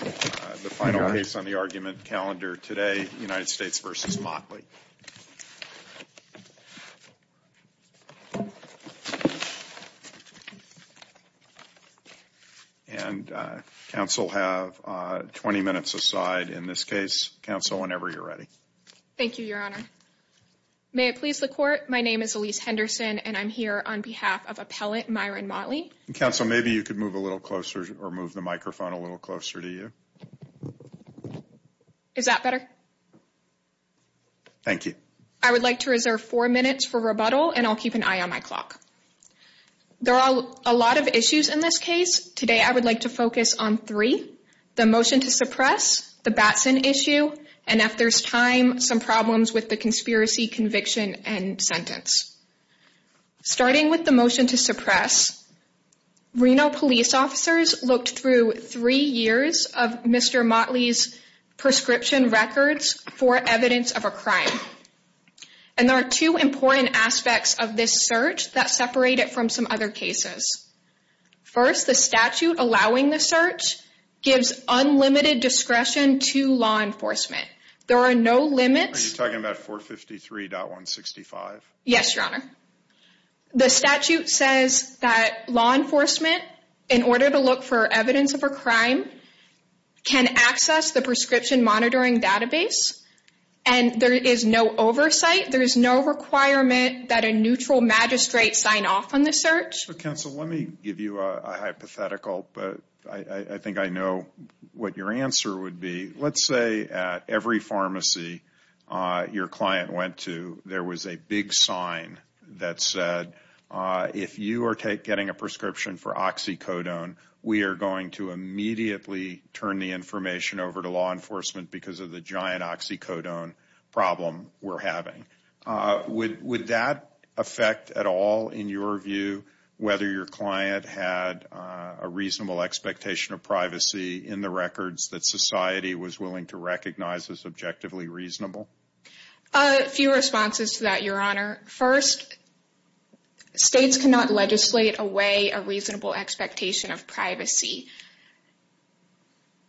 The final case on the argument calendar today, United States v. Motley. And counsel have 20 minutes aside in this case. Counsel, whenever you're ready. Thank you, Your Honor. May it please the Court, my name is Elyse Henderson, and I'm here on behalf of Appellant Myron Motley. Counsel, maybe you could move a little closer or move the microphone a little closer to you. Is that better? Thank you. I would like to reserve four minutes for rebuttal, and I'll keep an eye on my clock. There are a lot of issues in this case. Today, I would like to focus on three. The motion to suppress, the Batson issue, and if there's time, some problems with the conspiracy conviction and sentence. Starting with the motion to suppress, Reno police officers looked through three years of Mr. Motley's prescription records for evidence of a crime. And there are two important aspects of this search that separate it from some other cases. First, the statute allowing the search gives unlimited discretion to law enforcement. There are no limits. Are you talking about 453.165? Yes, Your Honor. The statute says that law enforcement, in order to look for evidence of a crime, can access the prescription monitoring database. And there is no oversight. There is no requirement that a neutral magistrate sign off on the search. Counsel, let me give you a hypothetical, but I think I know what your answer would be. Let's say at every pharmacy your client went to, there was a big sign that said, if you are getting a prescription for oxycodone, we are going to immediately turn the information over to law enforcement because of the giant oxycodone problem we're having. Would that affect at all, in your view, whether your client had a reasonable expectation of privacy in the records that society was willing to recognize as objectively reasonable? A few responses to that, Your Honor. First, states cannot legislate away a reasonable expectation of privacy.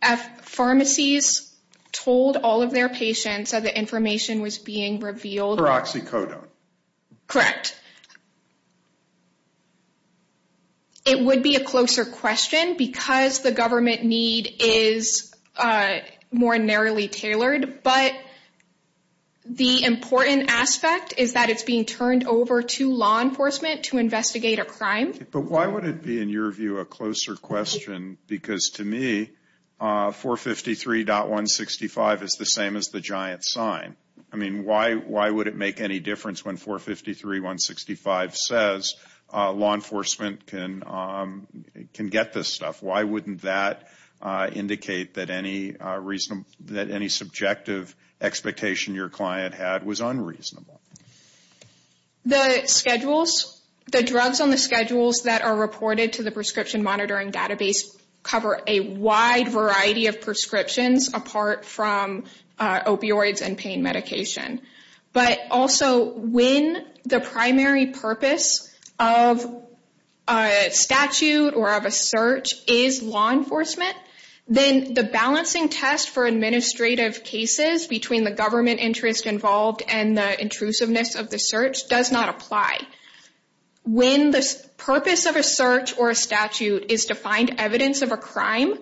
If pharmacies told all of their patients that the information was being revealed... For oxycodone. Correct. It would be a closer question because the government need is more narrowly tailored, but the important aspect is that it's being turned over to law enforcement to investigate a crime. But why would it be, in your view, a closer question? Because to me, 453.165 is the same as the giant sign. I mean, why would it make any difference when 453.165 says law enforcement can get this stuff? Why wouldn't that indicate that any subjective expectation your client had was unreasonable? The schedules, the drugs on the schedules that are reported to the prescription monitoring database cover a wide variety of prescriptions apart from opioids and pain medication. But also, when the primary purpose of a statute or of a search is law enforcement, then the balancing test for administrative cases between the government interest involved and the intrusiveness of the search does not apply. When the purpose of a search or a statute is to find evidence of a crime,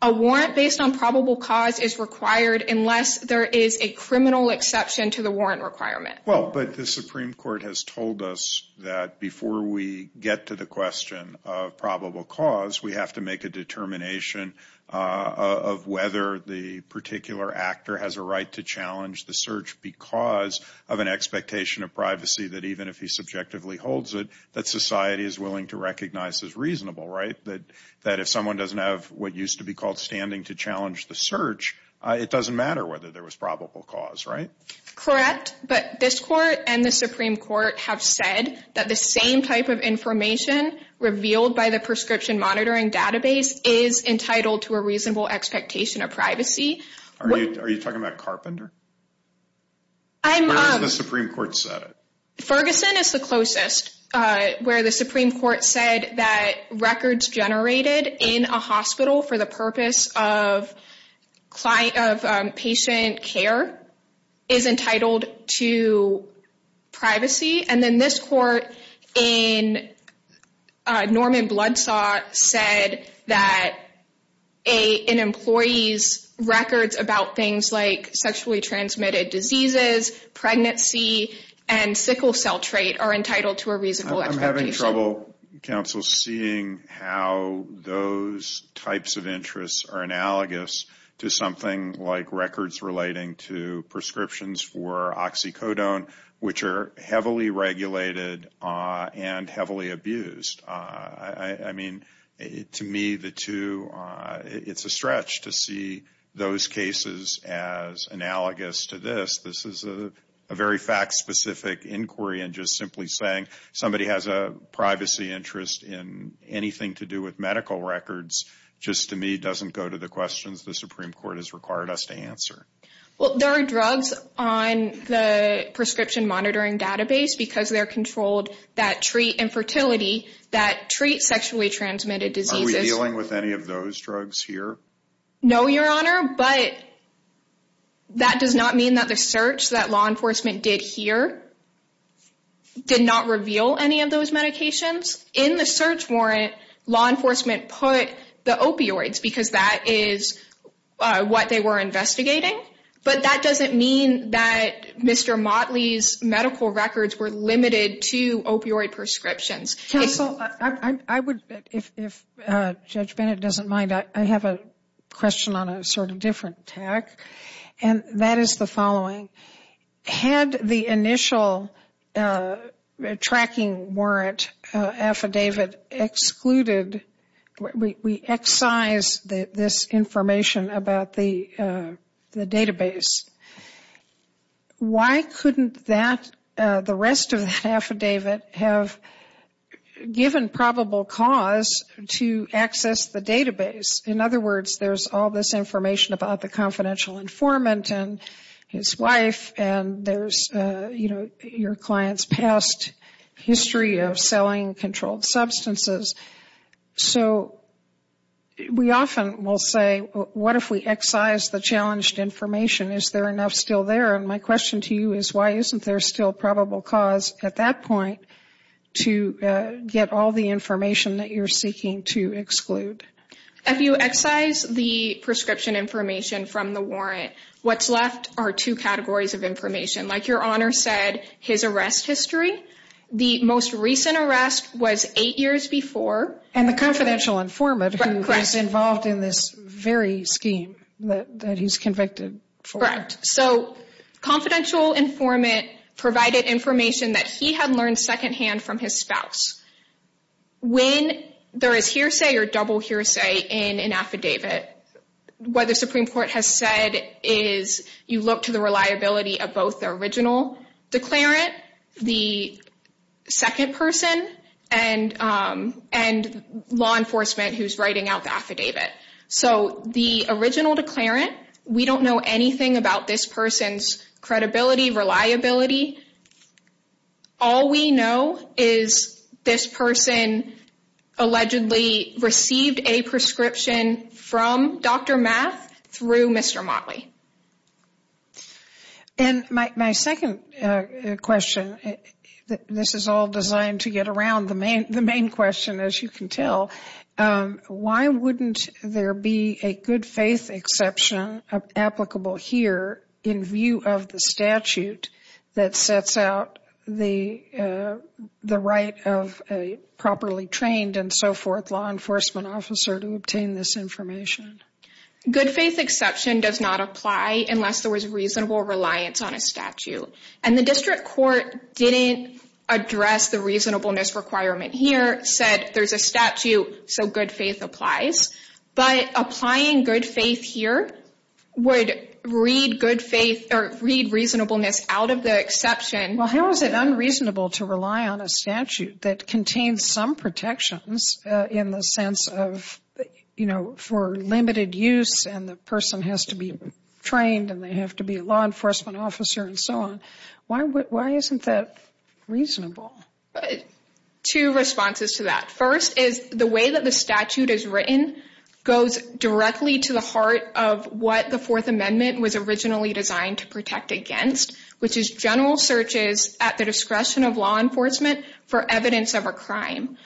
a warrant based on probable cause is required unless there is a criminal exception to the warrant requirement. Well, but the Supreme Court has told us that before we get to the question of probable cause, we have to make a determination of whether the particular actor has a right to challenge the search because of an expectation of privacy that even if he subjectively holds it, that society is willing to recognize as reasonable, right? That if someone doesn't have what used to be called standing to challenge the search, it doesn't matter whether there was probable cause, right? Correct, but this Court and the Supreme Court have said that the same type of information revealed by the prescription monitoring database is entitled to a reasonable expectation of privacy. Are you talking about Carpenter? Where has the Supreme Court said it? Ferguson is the closest where the Supreme Court said that records generated in a hospital for the purpose of patient care is entitled to privacy. And then this Court in Norman Bloodsaw said that an employee's records about things like sexually transmitted diseases, pregnancy, and sickle cell trait are entitled to a reasonable expectation. I'm having trouble, counsel, seeing how those types of interests are analogous to something like to prescriptions for oxycodone, which are heavily regulated and heavily abused. I mean, to me, it's a stretch to see those cases as analogous to this. This is a very fact-specific inquiry, and just simply saying somebody has a privacy interest in anything to do with medical records just, to me, doesn't go to the questions the Supreme Court has required us to answer. Well, there are drugs on the prescription monitoring database because they're controlled that treat infertility, that treat sexually transmitted diseases. Are we dealing with any of those drugs here? No, Your Honor, but that does not mean that the search that law enforcement did here did not reveal any of those medications. In the search warrant, law enforcement put the opioids because that is what they were investigating, but that doesn't mean that Mr. Motley's medical records were limited to opioid prescriptions. Counsel, I would, if Judge Bennett doesn't mind, I have a question on a sort of different tack, and that is the following. Had the initial tracking warrant affidavit excluded, we excise this information about the database. Why couldn't that, the rest of that affidavit, have given probable cause to access the database? In other words, there's all this information about the confidential informant and his wife, and there's, you know, your client's past history of selling controlled substances. So we often will say, what if we excise the challenged information? Is there enough still there? And my question to you is, why isn't there still probable cause at that point to get all the information that you're seeking to exclude? If you excise the prescription information from the warrant, what's left are two categories of information. Like Your Honor said, his arrest history. The most recent arrest was eight years before. And the confidential informant who was involved in this very scheme that he's convicted for. Correct. So confidential informant provided information that he had learned secondhand from his spouse. When there is hearsay or double hearsay in an affidavit, what the Supreme Court has said is, you look to the reliability of both the original declarant, the second person, and law enforcement who's writing out the affidavit. So the original declarant, we don't know anything about this person's credibility, reliability. All we know is this person allegedly received a prescription from Dr. Math through Mr. Motley. And my second question, this is all designed to get around the main question, as you can tell. Why wouldn't there be a good faith exception applicable here in view of the statute that sets out the right of a properly trained and so forth law enforcement officer to obtain this information? Good faith exception does not apply unless there was reasonable reliance on a statute. And the district court didn't address the reasonableness requirement here. The district court said there's a statute, so good faith applies. But applying good faith here would read good faith or read reasonableness out of the exception. Well, how is it unreasonable to rely on a statute that contains some protections in the sense of, you know, for limited use and the person has to be trained and they have to be a law enforcement officer and so on? Why isn't that reasonable? Two responses to that. First is the way that the statute is written goes directly to the heart of what the Fourth Amendment was originally designed to protect against, which is general searches at the discretion of law enforcement for evidence of a crime.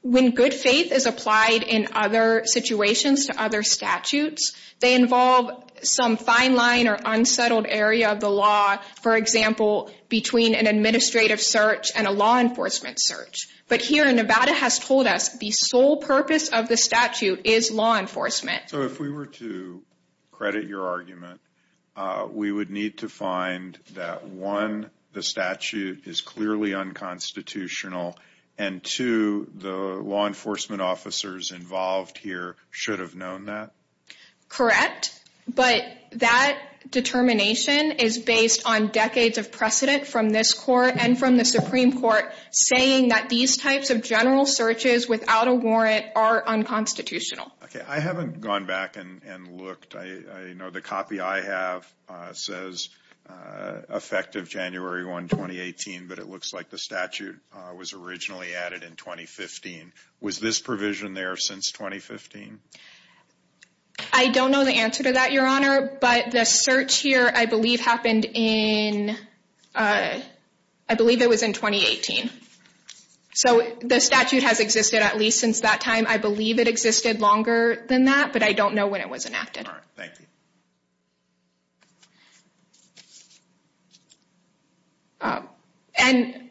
When good faith is applied in other situations to other statutes, they involve some fine line or unsettled area of the law, for example, between an administrative search and a law enforcement search. But here, Nevada has told us the sole purpose of the statute is law enforcement. So if we were to credit your argument, we would need to find that, one, the statute is clearly unconstitutional, and two, the law enforcement officers involved here should have known that? Correct. But that determination is based on decades of precedent from this court and from the Supreme Court saying that these types of general searches without a warrant are unconstitutional. Okay. I haven't gone back and looked. I know the copy I have says effective January 1, 2018, but it looks like the statute was originally added in 2015. Was this provision there since 2015? I don't know the answer to that, Your Honor, but the search here I believe happened in, I believe it was in 2018. So the statute has existed at least since that time. I believe it existed longer than that, but I don't know when it was enacted. All right. Thank you. And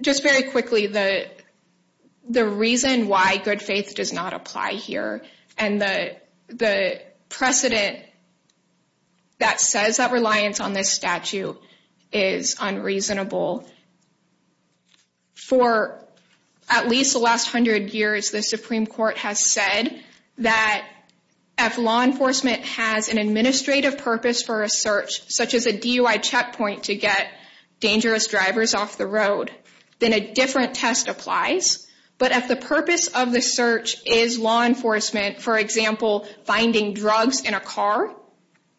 just very quickly, the reason why good faith does not apply here, and the precedent that says that reliance on this statute is unreasonable, for at least the last hundred years, the Supreme Court has said that if law enforcement has an administrative purpose for a search, such as a DUI checkpoint to get dangerous drivers off the road, then a different test applies. But if the purpose of the search is law enforcement, for example, finding drugs in a car,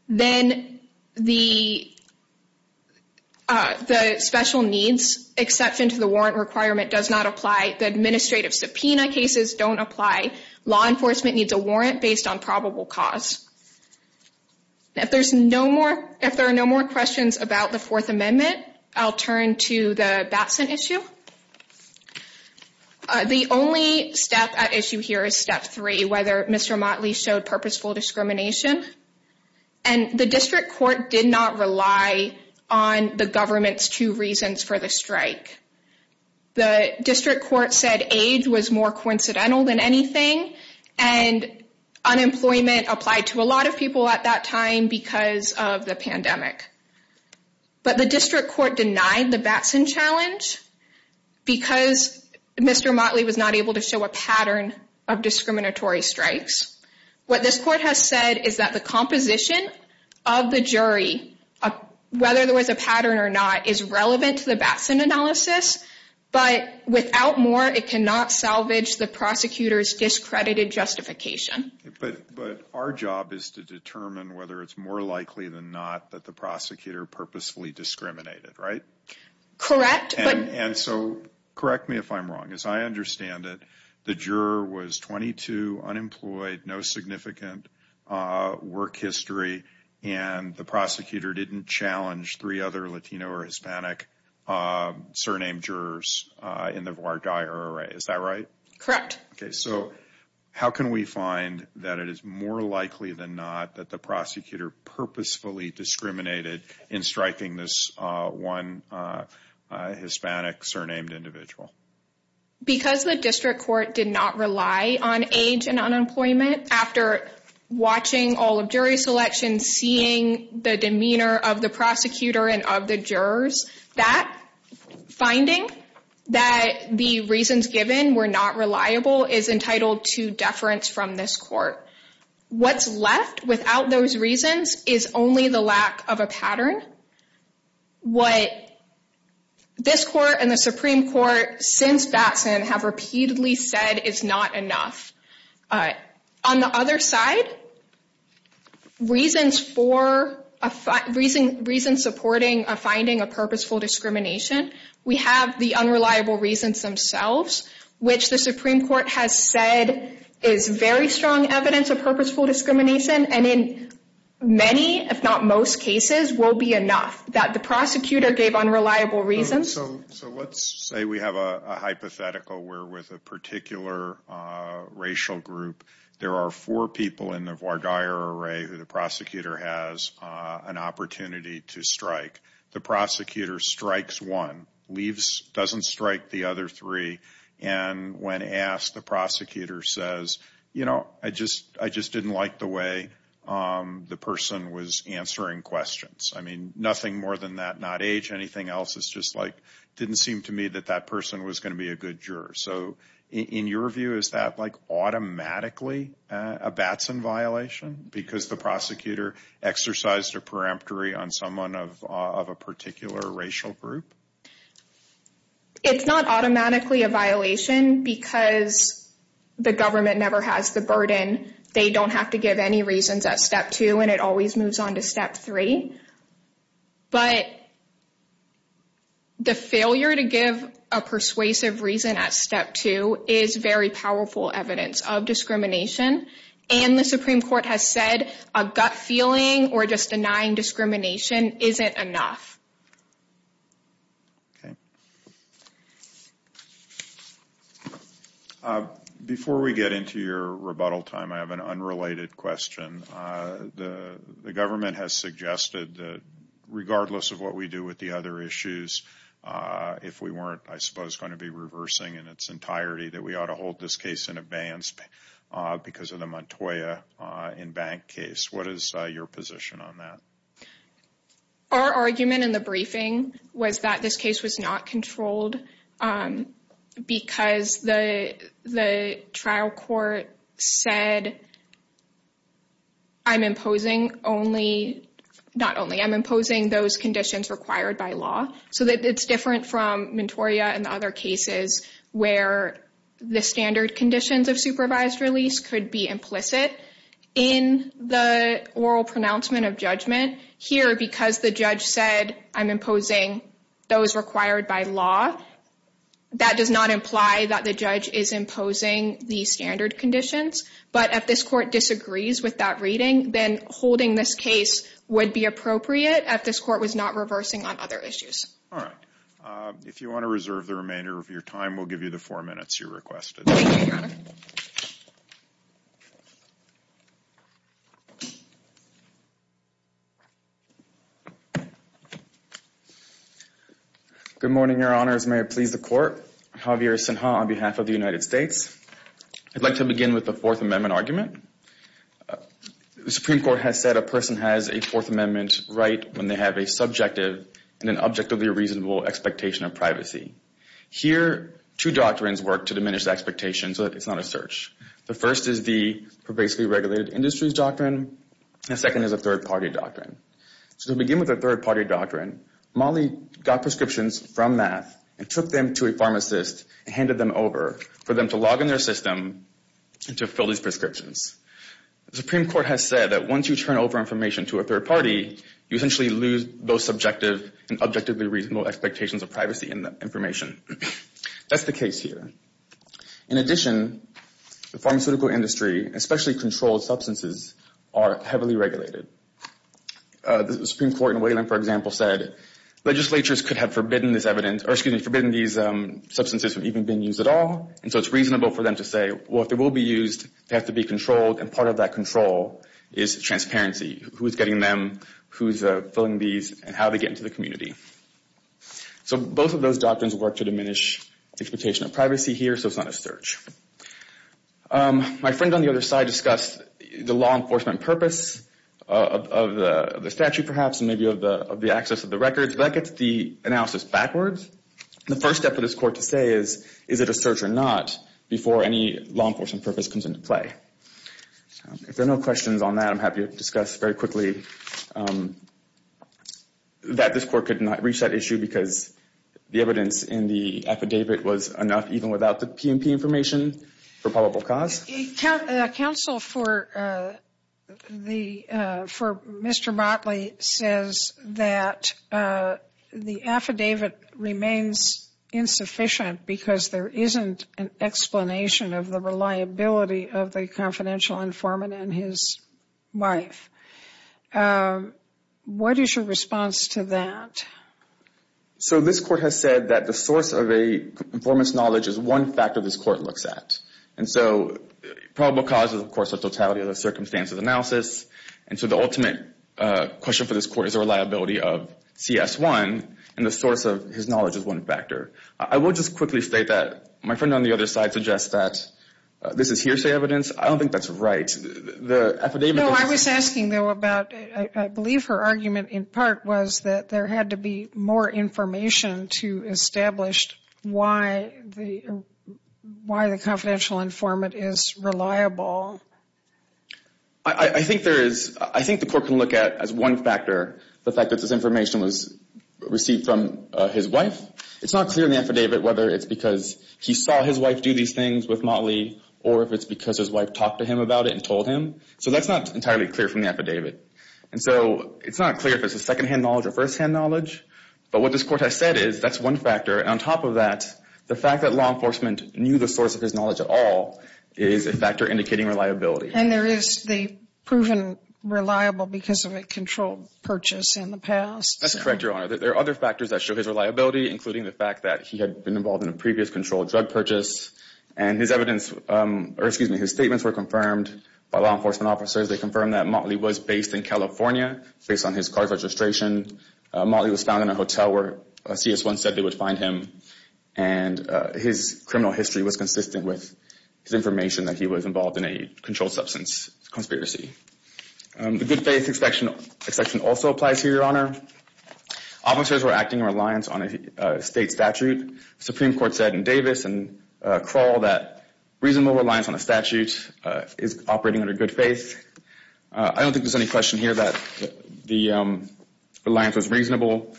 then the special needs exception to the warrant requirement does not apply. The administrative subpoena cases don't apply. Law enforcement needs a warrant based on probable cause. If there are no more questions about the Fourth Amendment, I'll turn to the Batson issue. The only step at issue here is step three, whether Mr. Motley showed purposeful discrimination. And the district court did not rely on the government's two reasons for the strike. The district court said AIDS was more coincidental than anything, and unemployment applied to a lot of people at that time because of the pandemic. But the district court denied the Batson challenge because Mr. Motley was not able to show a pattern of discriminatory strikes. What this court has said is that the composition of the jury, whether there was a pattern or not, is relevant to the Batson analysis. But without more, it cannot salvage the prosecutor's discredited justification. But our job is to determine whether it's more likely than not that the prosecutor purposefully discriminated, right? Correct. And so correct me if I'm wrong. As I understand it, the juror was 22, unemployed, no significant work history, and the prosecutor didn't challenge three other Latino or Hispanic surnamed jurors in the voir dire array. Is that right? Correct. So how can we find that it is more likely than not that the prosecutor purposefully discriminated in striking this one Hispanic surnamed individual? Because the district court did not rely on age and unemployment after watching all of jury selection, seeing the demeanor of the prosecutor and of the jurors, that finding that the reasons given were not reliable is entitled to deference from this court. What's left without those reasons is only the lack of a pattern. What this court and the Supreme Court since Batson have repeatedly said is not enough. On the other side, reasons supporting a finding of purposeful discrimination, we have the unreliable reasons themselves, which the Supreme Court has said is very strong evidence of purposeful discrimination, and in many, if not most cases, will be enough that the prosecutor gave unreliable reasons. So let's say we have a hypothetical where with a particular racial group, there are four people in the voir dire array who the prosecutor has an opportunity to strike. The prosecutor strikes one, leaves, doesn't strike the other three, and when asked, the prosecutor says, you know, I just didn't like the way the person was answering questions. I mean, nothing more than that, not age. Anything else is just like didn't seem to me that that person was going to be a good juror. So in your view, is that like automatically a Batson violation? Because the prosecutor exercised a peremptory on someone of a particular racial group? It's not automatically a violation because the government never has the burden. They don't have to give any reasons at step two, and it always moves on to step three. But the failure to give a persuasive reason at step two is very powerful evidence of discrimination, and the Supreme Court has said a gut feeling or just denying discrimination isn't enough. Okay. Before we get into your rebuttal time, I have an unrelated question. The government has suggested that regardless of what we do with the other issues, if we weren't, I suppose, going to be reversing in its entirety, that we ought to hold this case in advance because of the Montoya in-bank case. What is your position on that? Our argument in the briefing was that this case was not controlled because the trial court said, I'm imposing only, not only, I'm imposing those conditions required by law, so that it's different from Montoya and other cases where the standard conditions of supervised release could be implicit in the oral pronouncement of judgment. Here, because the judge said, I'm imposing those required by law, that does not imply that the judge is imposing the standard conditions. But if this court disagrees with that reading, then holding this case would be appropriate if this court was not reversing on other issues. All right. If you want to reserve the remainder of your time, we'll give you the four minutes you requested. Thank you, Your Honor. Good morning, Your Honors. May it please the Court. Javier Sinha on behalf of the United States. I'd like to begin with the Fourth Amendment argument. The Supreme Court has said a person has a Fourth Amendment right when they have a subjective and an objectively reasonable expectation of privacy. Here, two doctrines work to diminish the expectation so that it's not a search. The first is the pervasively regulated industries doctrine. The second is a third-party doctrine. So to begin with a third-party doctrine, Molly got prescriptions from math and took them to a pharmacist and handed them over for them to log in their system and to fill these prescriptions. The Supreme Court has said that once you turn over information to a third-party, you essentially lose those subjective and objectively reasonable expectations of privacy and information. That's the case here. In addition, the pharmaceutical industry, especially controlled substances, are heavily regulated. The Supreme Court in Wayland, for example, said legislatures could have forbidden this evidence from even being used at all, and so it's reasonable for them to say, well, if it will be used, it has to be controlled, and part of that control is transparency. Who is getting them, who is filling these, and how they get into the community. So both of those doctrines work to diminish the expectation of privacy here so it's not a search. My friend on the other side discussed the law enforcement purpose of the statute, perhaps, and maybe of the access of the records. That gets the analysis backwards. The first step for this court to say is, is it a search or not, before any law enforcement purpose comes into play. If there are no questions on that, I'm happy to discuss very quickly that this court could not reach that issue because the evidence in the affidavit was enough even without the PMP information for probable cause. Counsel for Mr. Motley says that the affidavit remains insufficient because there isn't an explanation of the reliability of the confidential informant and his wife. What is your response to that? So this court has said that the source of a informant's knowledge is one factor this court looks at. And so probable cause is, of course, the totality of the circumstances analysis. And so the ultimate question for this court is the reliability of CS1 and the source of his knowledge is one factor. I will just quickly state that my friend on the other side suggests that this is hearsay evidence. I don't think that's right. No, I was asking, though, about, I believe her argument in part was that there had to be more information to establish why the confidential informant is reliable. I think there is, I think the court can look at as one factor the fact that this information was received from his wife. It's not clear in the affidavit whether it's because he saw his wife do these things with Motley or if it's because his wife talked to him about it and told him. So that's not entirely clear from the affidavit. And so it's not clear if it's a secondhand knowledge or firsthand knowledge. But what this court has said is that's one factor. And on top of that, the fact that law enforcement knew the source of his knowledge at all is a factor indicating reliability. And there is the proven reliable because of a controlled purchase in the past. That's correct, Your Honor. There are other factors that show his reliability, including the fact that he had been involved in a previous controlled drug purchase. And his evidence, or excuse me, his statements were confirmed by law enforcement officers. They confirmed that Motley was based in California based on his car registration. Motley was found in a hotel where a CS1 said they would find him. And his criminal history was consistent with his information that he was involved in a controlled substance conspiracy. The good faith exception also applies here, Your Honor. Officers were acting in reliance on a state statute. The Supreme Court said in Davis and Kroll that reasonable reliance on a statute is operating under good faith. I don't think there's any question here that the reliance was reasonable.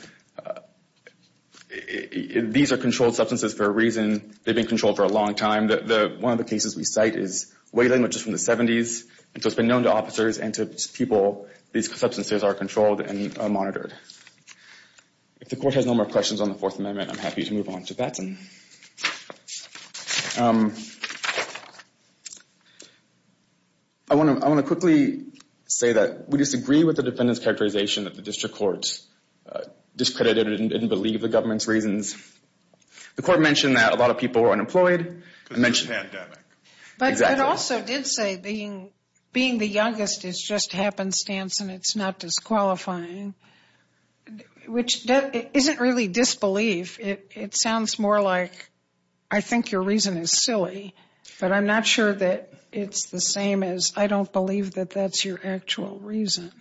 These are controlled substances for a reason. They've been controlled for a long time. One of the cases we cite is whaling, which is from the 70s. And so it's been known to officers and to people these substances are controlled and monitored. If the court has no more questions on the Fourth Amendment, I'm happy to move on to Batson. I want to quickly say that we disagree with the defendant's characterization that the district court discredited and didn't believe the government's reasons. The court mentioned that a lot of people were unemployed. But it also did say being the youngest is just happenstance and it's not disqualifying, which isn't really disbelief. It sounds more like I think your reason is silly, but I'm not sure that it's the same as I don't believe that that's your actual reason.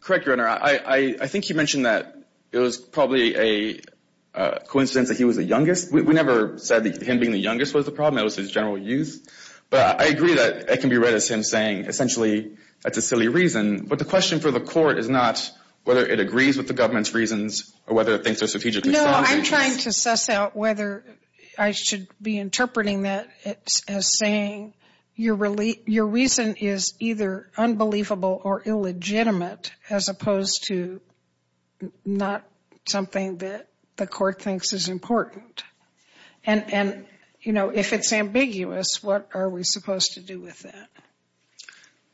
Correct, Your Honor. I think you mentioned that it was probably a coincidence that he was the youngest. We never said that him being the youngest was the problem. It was his general youth. But I agree that it can be read as him saying essentially that's a silly reason. But the question for the court is not whether it agrees with the government's reasons or whether it thinks they're strategically sound. I'm trying to suss out whether I should be interpreting that as saying your reason is either unbelievable or illegitimate as opposed to not something that the court thinks is important. And, you know, if it's ambiguous, what are we supposed to do with that?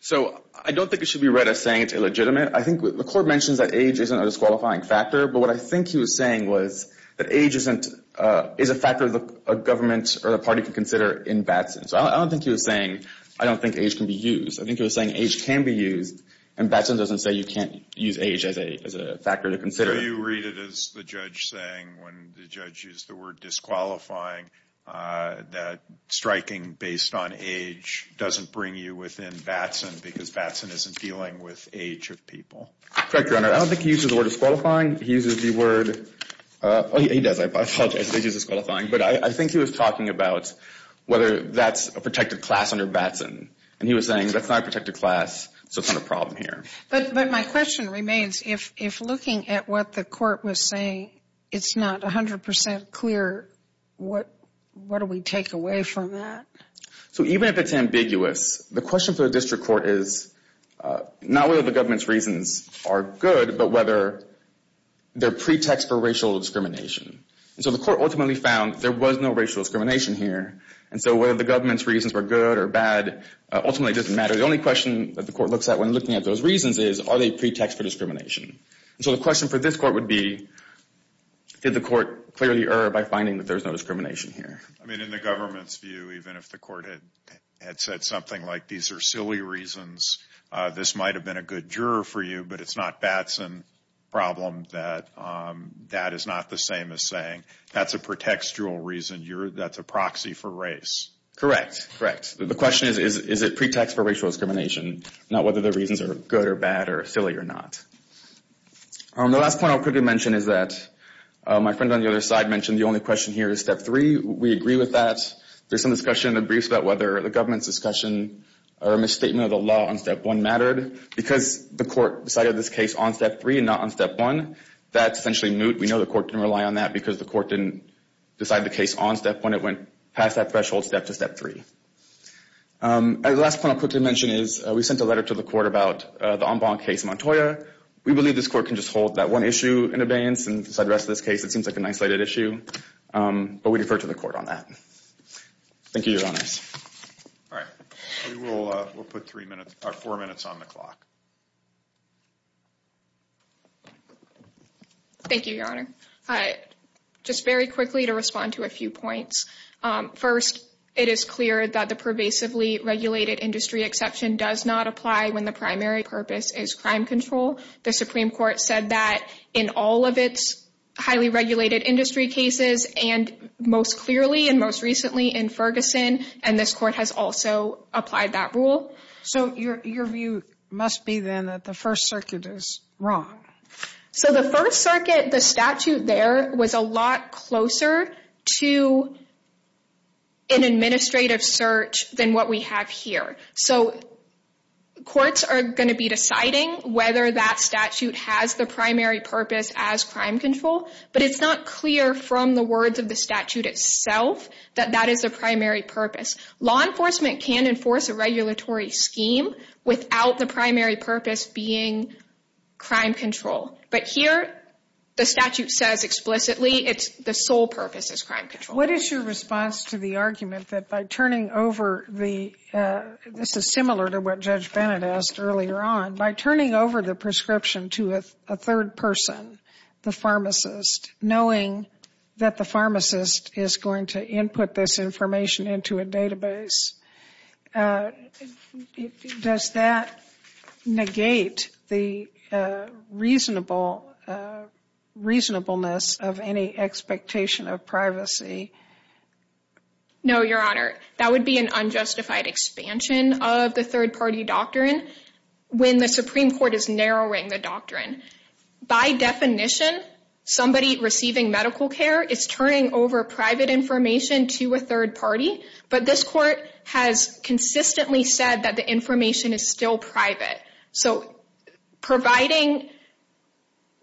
So I don't think it should be read as saying it's illegitimate. I think the court mentions that age isn't a disqualifying factor, but what I think he was saying was that age isn't – is a factor the government or the party can consider in Batson. So I don't think he was saying I don't think age can be used. I think he was saying age can be used, and Batson doesn't say you can't use age as a factor to consider. So you read it as the judge saying when the judge used the word disqualifying that striking based on age doesn't bring you within Batson because Batson isn't dealing with age of people. Correct, Your Honor. I don't think he uses the word disqualifying. He uses the word – oh, he does. I apologize. I think he's disqualifying. But I think he was talking about whether that's a protected class under Batson. And he was saying that's not a protected class, so it's not a problem here. But my question remains, if looking at what the court was saying, it's not 100% clear, what do we take away from that? So even if it's ambiguous, the question for the district court is not whether the government's reasons are good, but whether they're pretexts for racial discrimination. So the court ultimately found there was no racial discrimination here, and so whether the government's reasons were good or bad ultimately doesn't matter. The only question that the court looks at when looking at those reasons is are they pretexts for discrimination? And so the question for this court would be did the court clearly err by finding that there's no discrimination here? I mean, in the government's view, even if the court had said something like these are silly reasons, this might have been a good juror for you, but it's not Batson problem that that is not the same as saying that's a pretextual reason, that's a proxy for race. Correct, correct. The question is, is it pretext for racial discrimination, not whether the reasons are good or bad or silly or not. The last point I'll quickly mention is that my friend on the other side mentioned the only question here is Step 3. We agree with that. There's some discussion in the briefs about whether the government's discussion or misstatement of the law on Step 1 mattered. Because the court decided this case on Step 3 and not on Step 1, that's essentially moot. We know the court didn't rely on that because the court didn't decide the case on Step 1. It went past that threshold step to Step 3. The last point I'll quickly mention is we sent a letter to the court about the Ombank case in Montoya. We believe this court can just hold that one issue in abeyance and decide the rest of this case. It seems like an isolated issue, but we defer to the court on that. Thank you, Your Honors. All right. We'll put four minutes on the clock. Thank you, Your Honor. Just very quickly to respond to a few points. First, it is clear that the pervasively regulated industry exception does not apply when the primary purpose is crime control. The Supreme Court said that in all of its highly regulated industry cases and most clearly and most recently in Ferguson. And this court has also applied that rule. So your view must be then that the First Circuit is wrong. So the First Circuit, the statute there was a lot closer to an administrative search than what we have here. So courts are going to be deciding whether that statute has the primary purpose as crime control. But it's not clear from the words of the statute itself that that is a primary purpose. Law enforcement can enforce a regulatory scheme without the primary purpose being crime control. But here the statute says explicitly the sole purpose is crime control. What is your response to the argument that by turning over the, this is similar to what Judge Bennett asked earlier on, by turning over the prescription to a third person, the pharmacist, knowing that the pharmacist is going to input this information into a database, does that negate the reasonableness of any expectation of privacy? No, Your Honor. That would be an unjustified expansion of the third party doctrine when the Supreme Court is narrowing the doctrine. By definition, somebody receiving medical care is turning over private information to a third party. But this court has consistently said that the information is still private. So providing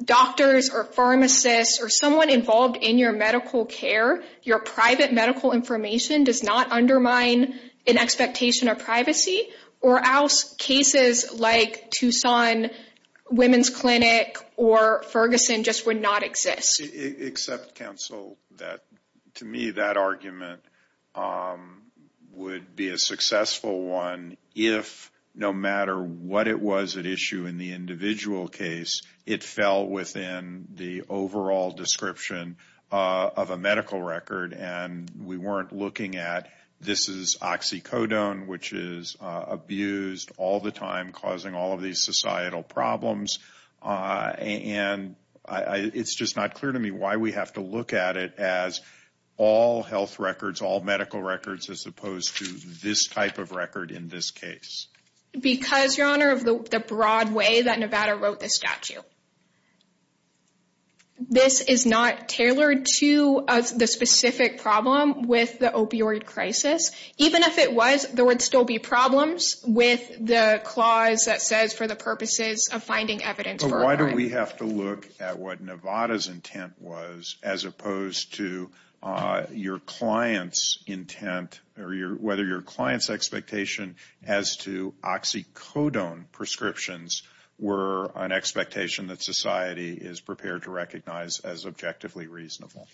doctors or pharmacists or someone involved in your medical care, your private medical information does not undermine an expectation of privacy. Or else cases like Tucson Women's Clinic or Ferguson just would not exist. Except counsel, to me that argument would be a successful one if no matter what it was at issue in the individual case, it fell within the overall description of a medical record. And we weren't looking at, this is oxycodone, which is abused all the time, causing all of these societal problems. And it's just not clear to me why we have to look at it as all health records, all medical records, as opposed to this type of record in this case. Because, Your Honor, of the broad way that Nevada wrote this statute. This is not tailored to the specific problem with the opioid crisis. Even if it was, there would still be problems with the clause that says for the purposes of finding evidence for a crime. But why do we have to look at what Nevada's intent was as opposed to your client's intent, or whether your client's expectation as to oxycodone prescriptions were an expectation that society is prepared to recognize as objectively reasonable?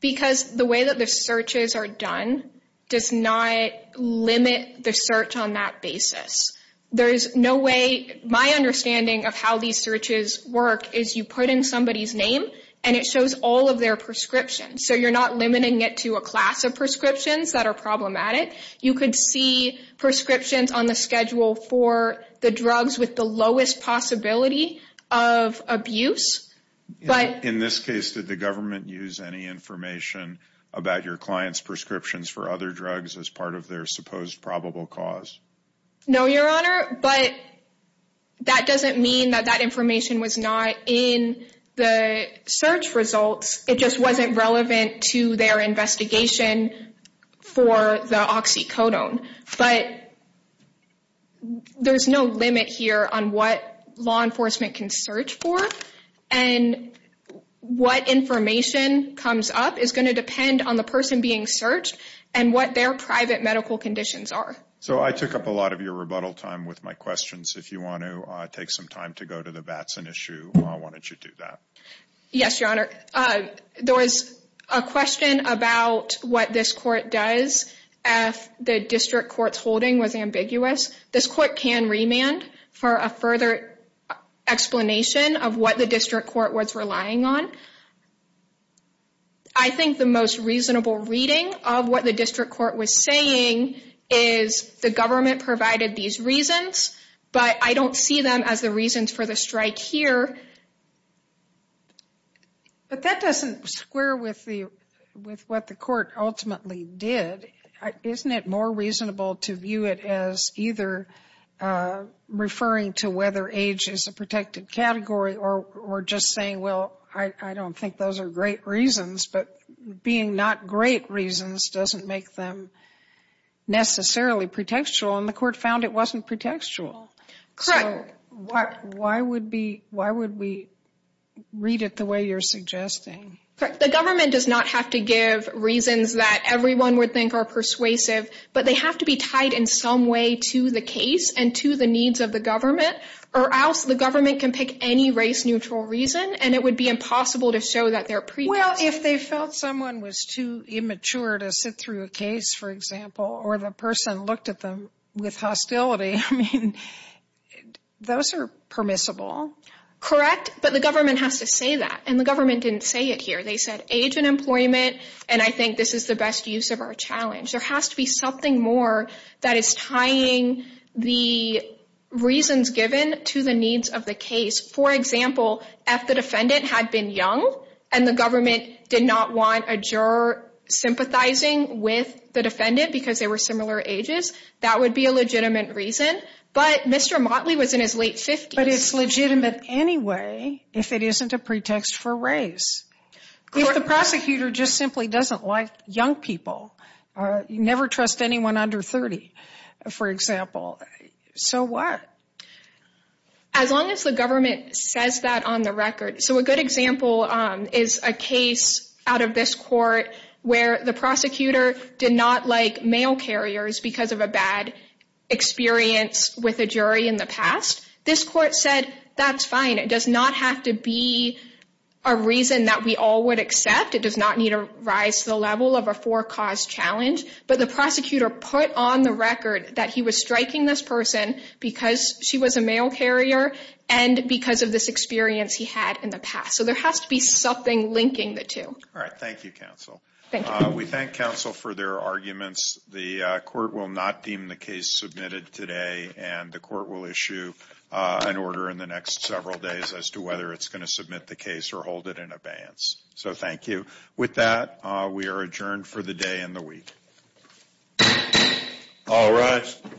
Because the way that the searches are done does not limit the search on that basis. There is no way, my understanding of how these searches work is you put in somebody's name and it shows all of their prescriptions. So you're not limiting it to a class of prescriptions that are problematic. You could see prescriptions on the schedule for the drugs with the lowest possibility of abuse. In this case, did the government use any information about your client's prescriptions for other drugs as part of their supposed probable cause? No, Your Honor, but that doesn't mean that that information was not in the search results. It just wasn't relevant to their investigation for the oxycodone. But there's no limit here on what law enforcement can search for, and what information comes up is going to depend on the person being searched and what their private medical conditions are. So I took up a lot of your rebuttal time with my questions. If you want to take some time to go to the Batson issue, why don't you do that? Yes, Your Honor. There was a question about what this court does if the district court's holding was ambiguous. This court can remand for a further explanation of what the district court was relying on. I think the most reasonable reading of what the district court was saying is the government provided these reasons, but I don't see them as the reasons for the strike here. But that doesn't square with what the court ultimately did. Isn't it more reasonable to view it as either referring to whether age is a protected category or just saying, well, I don't think those are great reasons, but being not great reasons doesn't make them necessarily pretextual, and the court found it wasn't pretextual. Correct. So why would we read it the way you're suggesting? The government does not have to give reasons that everyone would think are persuasive, but they have to be tied in some way to the case and to the needs of the government, or else the government can pick any race-neutral reason, and it would be impossible to show that they're pretextual. Well, if they felt someone was too immature to sit through a case, for example, or the person looked at them with hostility, I mean, those are permissible. Correct, but the government has to say that, and the government didn't say it here. They said age and employment, and I think this is the best use of our challenge. There has to be something more that is tying the reasons given to the needs of the case. For example, if the defendant had been young and the government did not want a juror sympathizing with the defendant because they were similar ages, that would be a legitimate reason. But Mr. Motley was in his late 50s. But it's legitimate anyway if it isn't a pretext for race. If the prosecutor just simply doesn't like young people, never trust anyone under 30, for example, so what? As long as the government says that on the record. So a good example is a case out of this court where the prosecutor did not like mail carriers because of a bad experience with a jury in the past. This court said, that's fine. It does not have to be a reason that we all would accept. It does not need to rise to the level of a four-cause challenge. But the prosecutor put on the record that he was striking this person because she was a mail carrier and because of this experience he had in the past. So there has to be something linking the two. All right, thank you, counsel. Thank you. We thank counsel for their arguments. The court will not deem the case submitted today, and the court will issue an order in the next several days as to whether it's going to submit the case or hold it in abeyance. So thank you. With that, we are adjourned for the day and the week. All rise.